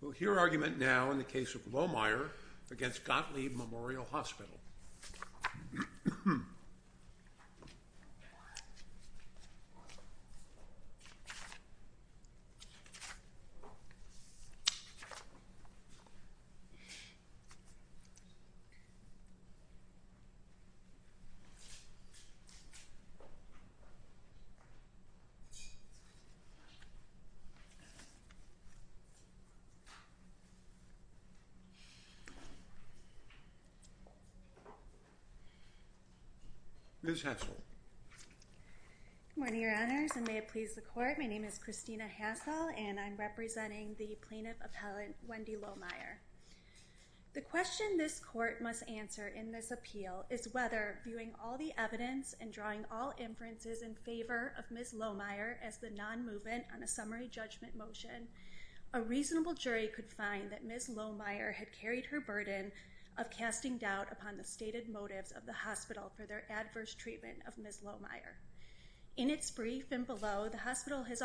We'll hear argument now in the case of Lohmeier against Gottlieb Memorial Hospital. Ms. Hassel Good morning, Your Honors, and may it please the Court, my name is Christina Hassel and I'm representing the Plaintiff Appellant Wendy Lohmeier. The question this Court must answer in this appeal is whether, viewing all the evidence and drawing all inferences in favor of Ms. Lohmeier as the non-movement on a summary judgment motion, a reasonable jury could find that Ms. Lohmeier had carried her burden of casting doubt upon the stated motives of the hospital for their adverse treatment of Ms. Lohmeier. In its brief and below, the hospital has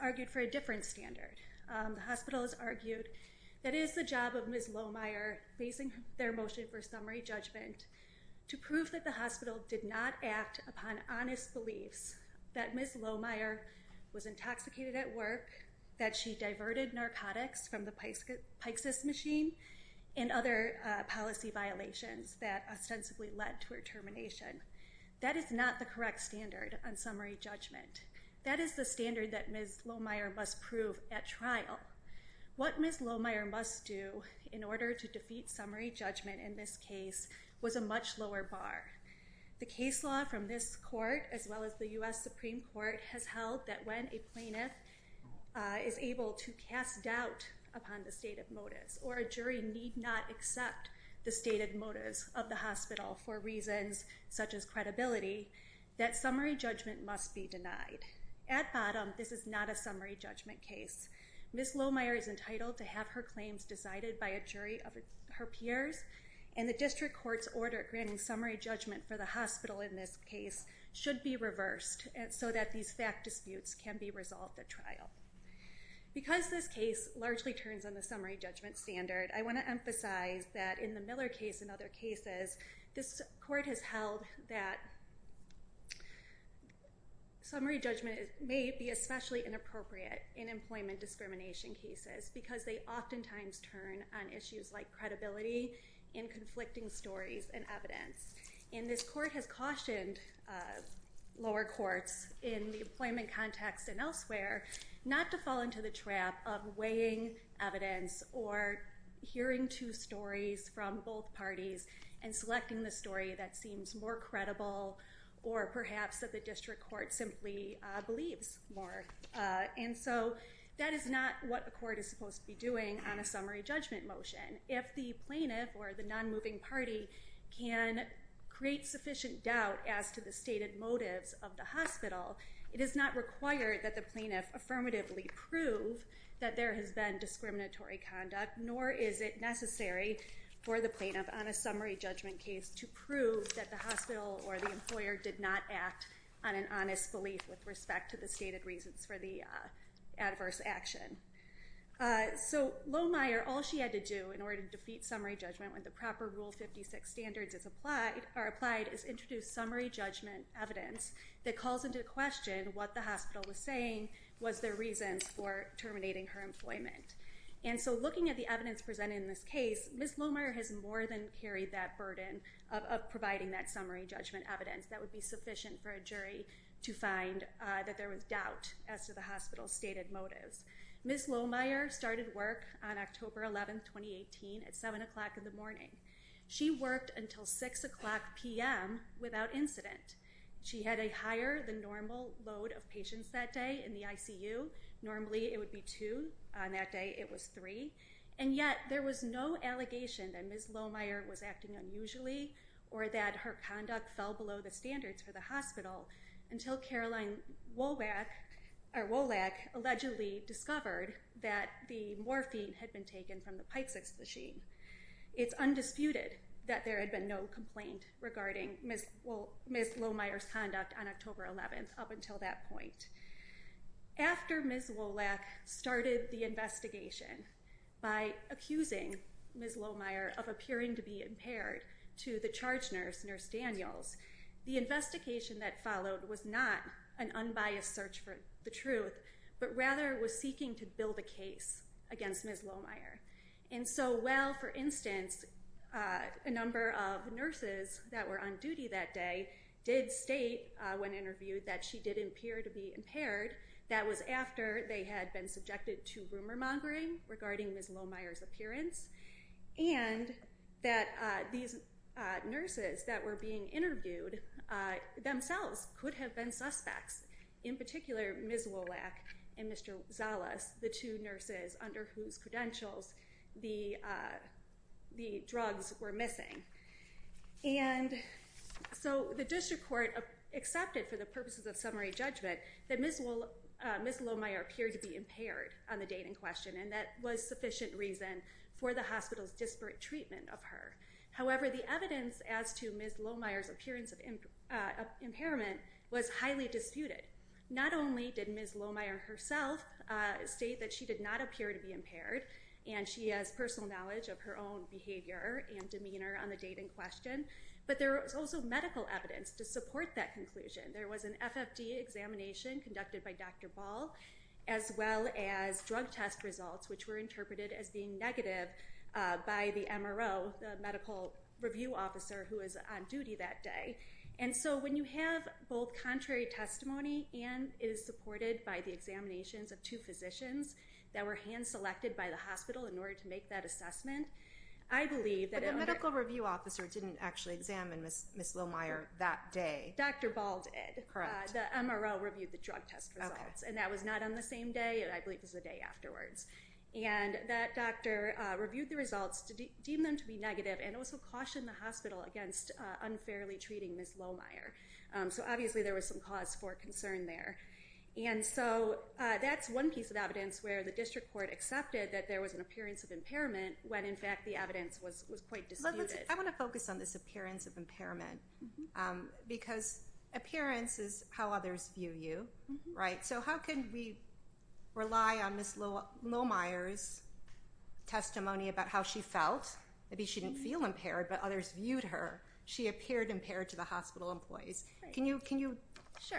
argued for a different standard. The hospital has argued that it is the job of Ms. Lohmeier, facing their motion for summary judgment, to prove that the hospital did not act upon honest beliefs that Ms. Lohmeier was intoxicated at work, that she diverted narcotics from the Pyxis machine, and other policy violations that ostensibly led to her termination. That is not the correct standard on summary judgment. That is the standard that Ms. Lohmeier must prove at trial. What Ms. Lohmeier must do in order to defeat summary judgment in this case was a much lower bar. The case law from this court, as well as the U.S. Supreme Court, has held that when a plaintiff is able to cast doubt upon the stated motives, or a jury need not accept the stated motives of the hospital for reasons such as credibility, that summary judgment must be denied. At bottom, this is not a summary judgment case. Ms. Lohmeier is entitled to have her claims decided by a jury of her peers, and the district court's order granting summary judgment for the hospital in this case should be reversed so that these fact disputes can be resolved at trial. Because this case largely turns on the summary judgment standard, I want to emphasize that in the Miller case and other cases, this court has held that summary judgment may be especially inappropriate in employment discrimination cases because they oftentimes turn on issues like credibility and conflicting stories and evidence. And this court has cautioned lower courts in the employment context and elsewhere not to fall into the trap of weighing evidence or hearing two stories from both parties and selecting the story that seems more credible or perhaps that the district court simply believes more. And so that is not what a court is supposed to be doing on a summary judgment motion. If the plaintiff or the non-moving party can create sufficient doubt as to the stated motives of the hospital, it is not required that the plaintiff affirmatively prove that there has been discriminatory conduct, nor is it necessary for the plaintiff on a summary judgment case to prove that the hospital or the employer did not act on an honest belief with respect to the stated reasons for their actions. So Lohmeyer, all she had to do in order to defeat summary judgment when the proper Rule 56 standards are applied is introduce summary judgment evidence that calls into question what the hospital was saying was their reasons for terminating her employment. And so looking at the evidence presented in this case, Ms. Lohmeyer has more than carried that burden of providing that summary judgment evidence that would be sufficient for a jury to find that there was doubt as to the hospital's stated motives. Ms. Lohmeyer started work on October 11, 2018 at 7 o'clock in the morning. She worked until 6 o'clock p.m. without incident. She had a higher than normal load of patients that day in the ICU. Normally it would be two. On that day it was three. And yet there was no allegation that Ms. Lohmeyer was acting unusually or that her conduct fell below the standards for the hospital until Caroline Wolak allegedly discovered that the morphine had been taken from the Pyxis machine. It's undisputed that there had been no complaint regarding Ms. Lohmeyer's conduct on October 11 up until that point. After Ms. Wolak started the investigation by accusing Ms. Lohmeyer of appearing to be impaired to the charge nurse, Nurse Daniels, the investigation that followed was not an unbiased search for the truth, but rather was seeking to build a case against Ms. Lohmeyer. And so while, for instance, a number of nurses that were on duty that day did state when interviewed that she did appear to be impaired, that was after they had been subjected to rumor mongering regarding Ms. Lohmeyer's appearance. And that these nurses that were being interviewed themselves could have been suspects, in particular Ms. Wolak and Mr. Zalas, the two nurses under whose credentials the drugs were missing. And so the district court accepted for the purposes of summary judgment that Ms. Lohmeyer appeared to be impaired on the date in question and that was sufficient reason for the hospital's disparate treatment of her. However, the evidence as to Ms. Lohmeyer's appearance of impairment was highly disputed. Not only did Ms. Lohmeyer herself state that she did not appear to be impaired, and she has personal knowledge of her own behavior and demeanor on the date in question, but there was also medical evidence to support that conclusion. There was an FFD examination conducted by Dr. Ball, as well as drug test results which were interpreted as being negative by the MRO, the medical review officer who was on duty that day. And so when you have both contrary testimony and it is supported by the examinations of two physicians that were hand-selected by the hospital in order to make that assessment, I believe that... But the medical review officer didn't actually examine Ms. Lohmeyer that day. Dr. Ball did. Correct. The MRO reviewed the drug test results. And that was not on the same day. I believe it was the day afterwards. And that doctor reviewed the results, deemed them to be negative, and also cautioned the hospital against unfairly treating Ms. Lohmeyer. So obviously there was some cause for concern there. And so that's one piece of evidence where the district court accepted that there was an appearance of impairment when, in fact, the evidence was quite disputed. I want to focus on this appearance of impairment because appearance is how others view you, right? So how can we rely on Ms. Lohmeyer's testimony about how she felt? Maybe she didn't feel impaired, but others viewed her. She appeared impaired to the hospital employees. Can you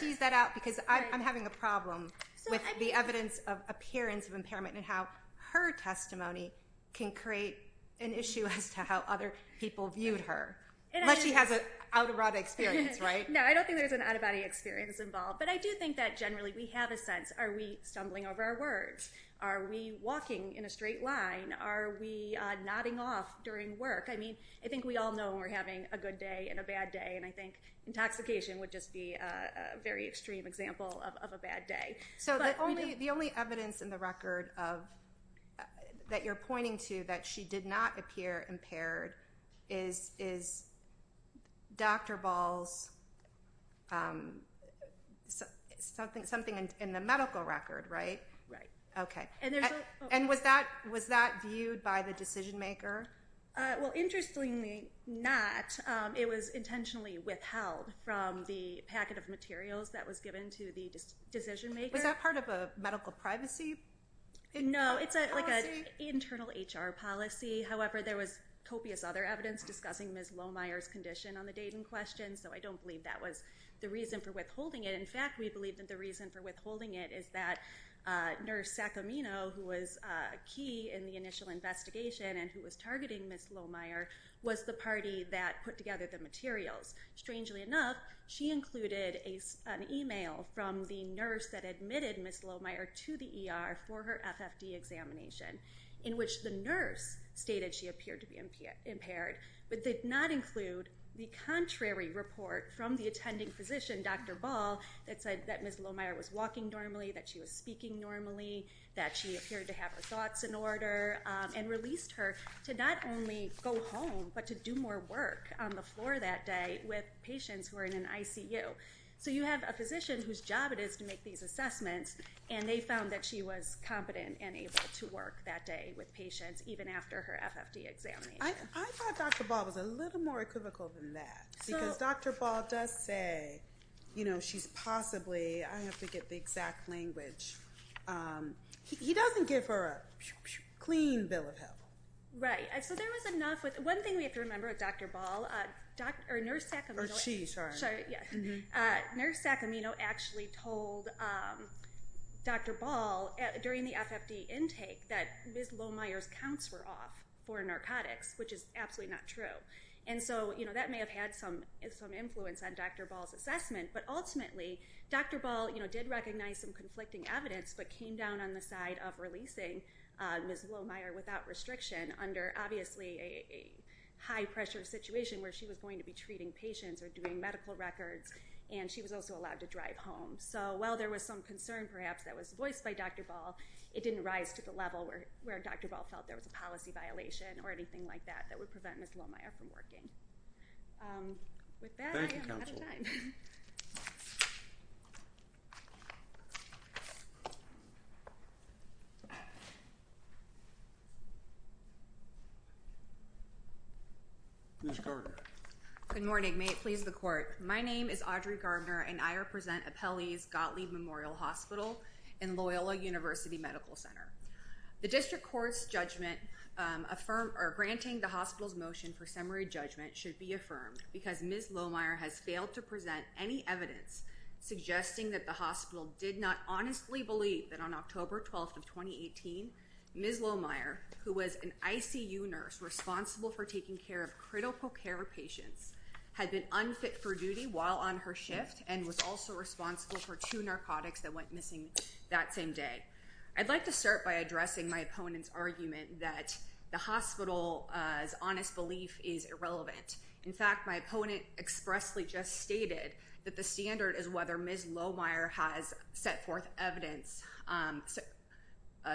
tease that out? Because I'm having a problem with the evidence of appearance of impairment and how her testimony can create an issue as to how other people viewed her. Unless she has an out-of-body experience, right? No, I don't think there's an out-of-body experience involved. But I do think that generally we have a sense. Are we stumbling over our words? Are we walking in a straight line? Are we nodding off during work? I mean, I think we all know we're having a good day and a bad day, and I think intoxication would just be a very extreme example of a bad day. So the only evidence in the record that you're pointing to that she did not appear impaired is Dr. Ball's something in the medical record, right? Right. Okay. And was that viewed by the decision maker? Well, interestingly not. It was intentionally withheld from the packet of materials that was given to the decision maker. Was that part of a medical privacy policy? No, it's like an internal HR policy. However, there was copious other evidence discussing Ms. Lohmeier's condition on the date in question, so I don't believe that was the reason for withholding it. In fact, we believe that the reason for withholding it is that Nurse Sacamino, who was key in the initial investigation and who was targeting Ms. Lohmeier, was the party that put together the materials. Strangely enough, she included an email from the nurse that admitted Ms. Lohmeier to the ER for her FFD examination, in which the nurse stated she appeared to be impaired, but did not include the contrary report from the attending physician, Dr. Ball, that said that Ms. Lohmeier was walking normally, that she was speaking normally, that she appeared to have her thoughts in order, and released her to not only go home, but to do more work on the floor that day with patients who were in an ICU. So you have a physician whose job it is to make these assessments, and they found that she was competent and able to work that day with patients, even after her FFD examination. I thought Dr. Ball was a little more equivocal than that, because Dr. Ball does say, you know, she's possibly, I have to get the exact language, he doesn't give her a clean bill of health. Right, so there was enough, one thing we have to remember with Dr. Ball, Nurse Sacamino actually told Dr. Ball during the FFD intake that Ms. Lohmeier's counts were off for narcotics, which is absolutely not true. And so, you know, that may have had some influence on Dr. Ball's assessment, but ultimately Dr. Ball, you know, did recognize some conflicting evidence, but came down on the side of releasing Ms. Lohmeier without restriction, under obviously a high-pressure situation where she was going to be treating patients or doing medical records, and she was also allowed to drive home. So while there was some concern, perhaps, that was voiced by Dr. Ball, it didn't rise to the level where Dr. Ball felt there was a policy violation or anything like that that would prevent Ms. Lohmeier from working. With that, I'm out of time. Ms. Gardner. Good morning. May it please the court. My name is Audrey Gardner, and I represent Appellee's Gottlieb Memorial Hospital in Loyola University Medical Center. The district court's judgment granting the hospital's motion for summary judgment should be affirmed because Ms. Lohmeier has failed to present any evidence suggesting that the hospital did not honestly believe that on October 12th of 2018, Ms. Lohmeier, who was an ICU nurse responsible for taking care of critical care patients, had been unfit for duty while on her shift and was also responsible for two narcotics that went missing that same day. I'd like to start by addressing my opponent's argument that the hospital's honest belief is irrelevant. In fact, my opponent expressly just stated that the standard is whether Ms. Lohmeier has set forth evidence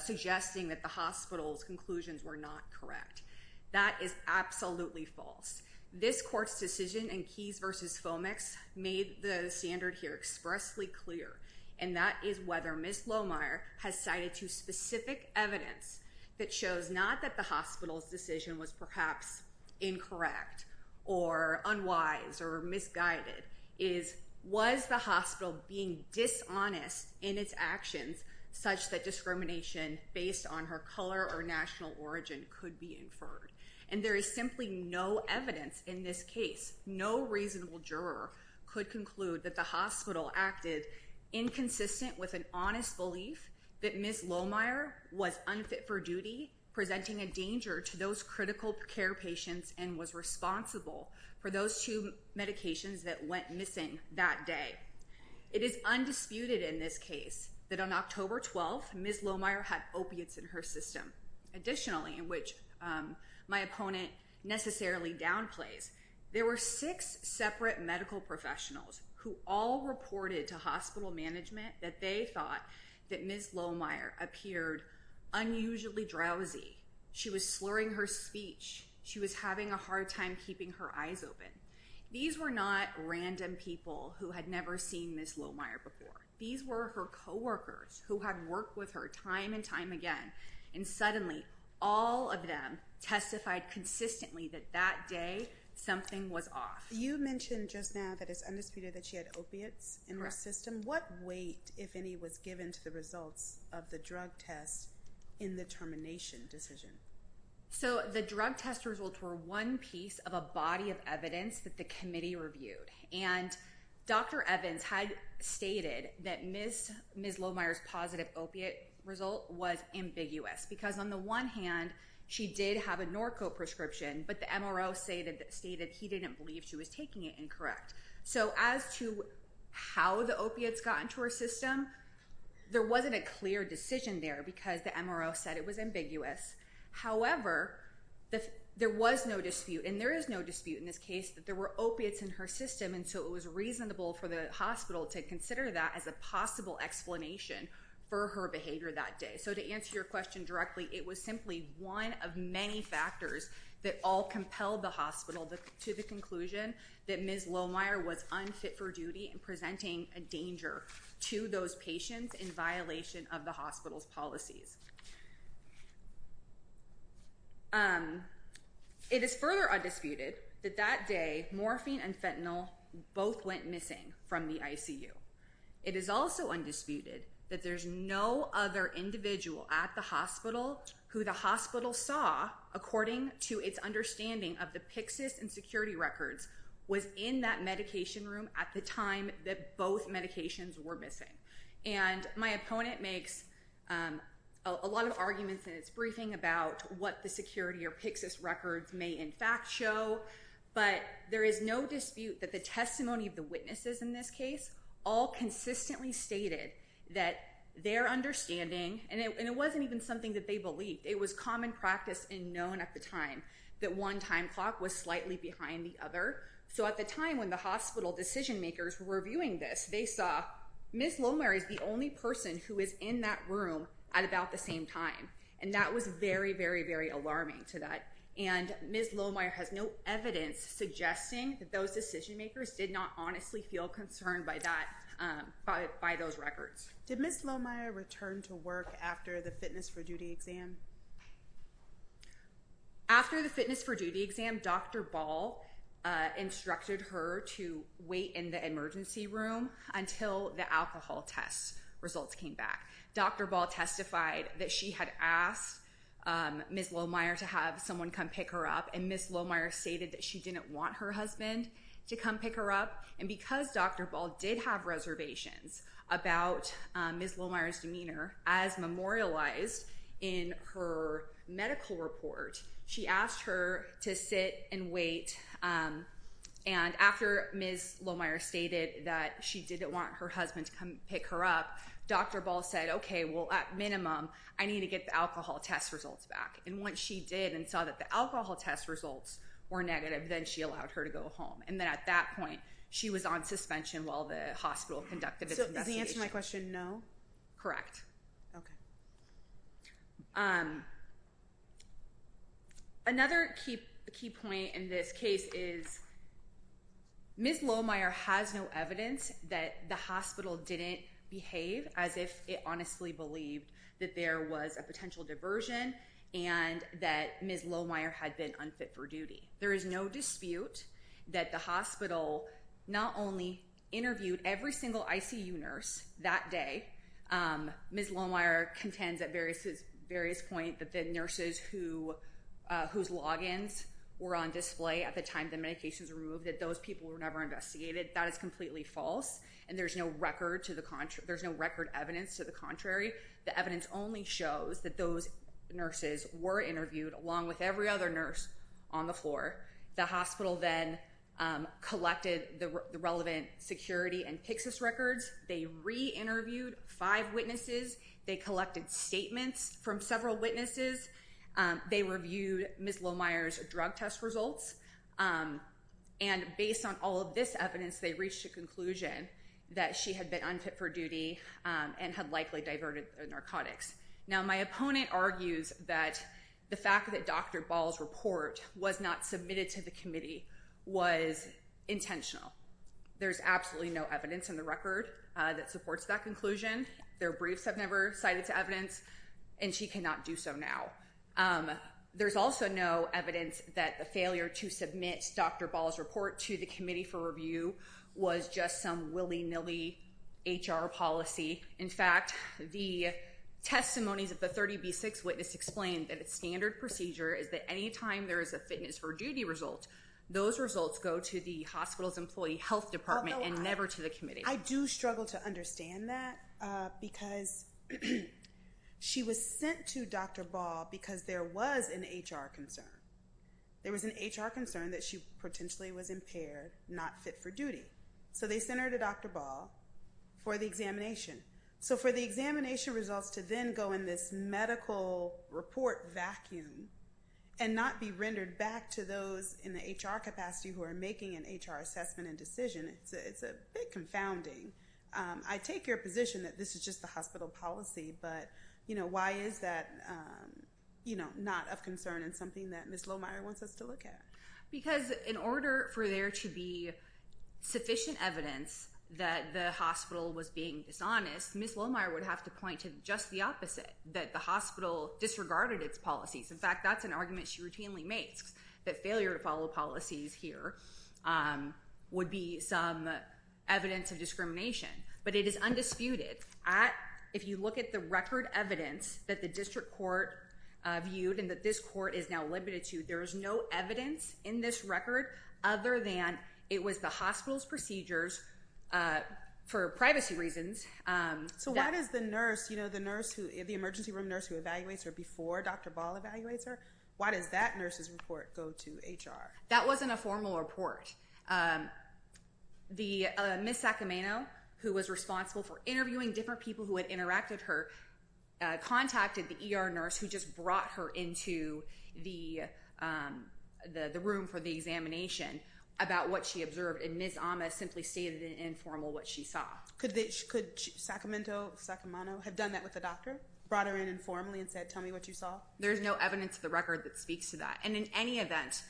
suggesting that the hospital's conclusions were not correct. That is absolutely false. This court's decision in Keys v. Fomex made the standard here expressly clear, and that is whether Ms. Lohmeier has cited two specific evidence that shows not that the hospital's decision was perhaps incorrect or unwise or misguided. It is, was the hospital being dishonest in its actions such that discrimination based on her color or national origin could be inferred? And there is simply no evidence in this case, no reasonable juror could conclude that the hospital acted inconsistent with an honest belief that Ms. Lohmeier was unfit for duty, presenting a danger to those critical care patients and was responsible for those two medications that went missing that day. It is undisputed in this case that on October 12th, Ms. Lohmeier had opiates in her system. Additionally, in which my opponent necessarily downplays, there were six separate medical professionals who all reported to hospital management that they thought that Ms. Lohmeier appeared unusually drowsy. She was slurring her speech. She was having a hard time keeping her eyes open. These were not random people who had never seen Ms. Lohmeier before. These were her coworkers who had worked with her time and time again. And suddenly all of them testified consistently that that day something was off. You mentioned just now that it's undisputed that she had opiates in her system. What weight, if any, was given to the results of the drug test in the termination decision? So the drug test results were one piece of a body of evidence that the committee reviewed. And Dr. Evans had stated that Ms. Lohmeier's positive opiate result was ambiguous because on the one hand, she did have a Norco prescription, but the MRO stated he didn't believe she was taking it incorrect. So as to how the opiates got into her system, there wasn't a clear decision there because the MRO said it was ambiguous. However, there was no dispute, and there is no dispute in this case, that there were opiates in her system, and so it was reasonable for the hospital to consider that as a possible explanation for her behavior that day. So to answer your question directly, it was simply one of many factors that all compelled the hospital to the conclusion that Ms. Lohmeier was unfit for duty and presenting a danger to those patients in violation of the hospital's policies. It is further undisputed that that day morphine and fentanyl both went missing from the ICU. It is also undisputed that there's no other individual at the hospital who the hospital saw, according to its understanding of the Pyxis and security records, was in that medication room at the time that both medications were missing. And my opponent makes a lot of arguments in its briefing about what the security or Pyxis records may in fact show, but there is no dispute that the testimony of the witnesses in this case all consistently stated that their understanding, and it wasn't even something that they believed, it was common practice and known at the time that one time clock was slightly behind the other. So at the time when the hospital decision makers were reviewing this, they saw Ms. Lohmeier is the only person who is in that room at about the same time, and that was very, very, very alarming to that. And Ms. Lohmeier has no evidence suggesting that those decision makers did not honestly feel concerned by that, by those records. Did Ms. Lohmeier return to work after the fitness for duty exam? After the fitness for duty exam, Dr. Ball instructed her to wait in the emergency room until the alcohol test results came back. Dr. Ball testified that she had asked Ms. Lohmeier to have someone come pick her up, and Ms. Lohmeier stated that she didn't want her husband to come pick her up. And because Dr. Ball did have reservations about Ms. Lohmeier's demeanor as memorialized in her medical report, she asked her to sit and wait, and after Ms. Lohmeier stated that she didn't want her husband to come pick her up, Dr. Ball said, okay, well, at minimum, I need to get the alcohol test results back. And once she did and saw that the alcohol test results were negative, then she allowed her to go home. And then at that point, she was on suspension while the hospital conducted its investigation. So does the answer to my question, no? Correct. Another key point in this case is Ms. Lohmeier has no evidence that the hospital didn't behave as if it honestly believed that there was a potential diversion and that Ms. Lohmeier had been unfit for duty. There is no dispute that the hospital not only interviewed every single ICU nurse that day. Ms. Lohmeier contends at various points that the nurses whose logins were on display at the time the medications were removed, that those people were never investigated. That is completely false, and there's no record evidence to the contrary. The evidence only shows that those nurses were interviewed along with every other nurse on the floor. The hospital then collected the relevant security and PCSIS records. They re-interviewed five witnesses. They collected statements from several witnesses. They reviewed Ms. Lohmeier's drug test results, and based on all of this evidence, they reached a conclusion that she had been unfit for duty and had likely diverted the narcotics. Now, my opponent argues that the fact that Dr. Ball's report was not submitted to the committee was intentional. There's absolutely no evidence in the record that supports that conclusion. Their briefs have never cited evidence, and she cannot do so now. There's also no evidence that the failure to submit Dr. Ball's report to the committee for review was just some willy-nilly HR policy. In fact, the testimonies of the 30B6 witness explain that a standard procedure is that any time there is a fitness for duty result, those results go to the hospital's employee health department and never to the committee. I do struggle to understand that because she was sent to Dr. Ball because there was an HR concern. There was an HR concern that she potentially was impaired, not fit for duty. So they sent her to Dr. Ball for the examination. So for the examination results to then go in this medical report vacuum and not be rendered back to those in the HR capacity who are making an HR assessment and decision, it's a bit confounding. I take your position that this is just the hospital policy, but why is that not of concern and something that Ms. Lohmeier wants us to look at? Because in order for there to be sufficient evidence that the hospital was being dishonest, Ms. Lohmeier would have to point to just the opposite, that the hospital disregarded its policies. In fact, that's an argument she routinely makes, that failure to follow policies here would be some evidence of discrimination. But it is undisputed. If you look at the record evidence that the district court viewed and that this court is now limited to, there is no evidence in this record other than it was the hospital's procedures for privacy reasons. So why does the emergency room nurse who evaluates her before Dr. Ball evaluates her, why does that nurse's report go to HR? That wasn't a formal report. Ms. Sacramento, who was responsible for interviewing different people who had interacted with her, contacted the ER nurse who just brought her into the room for the examination about what she observed, and Ms. Amas simply stated in informal what she saw. Could Sacramento have done that with the doctor? Brought her in informally and said, tell me what you saw? There's no evidence in the record that speaks to that. And in any event,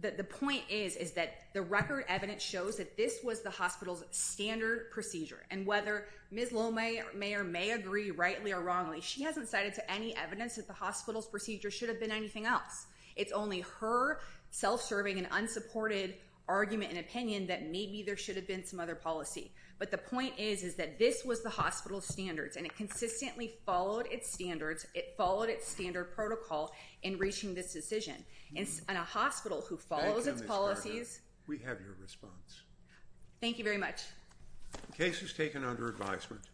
the point is that the record evidence shows that this was the hospital's standard procedure. And whether Ms. Lohmeier may or may agree rightly or wrongly, she hasn't cited to any evidence that the hospital's procedure should have been anything else. It's only her self-serving and unsupported argument and opinion that maybe there should have been some other policy. But the point is that this was the hospital's standards, and it consistently followed its standards. It followed its standard protocol in reaching this decision. And a hospital who follows its policies— Thank you, Ms. Scargill. We have your response. Thank you very much. The case is taken under advisement.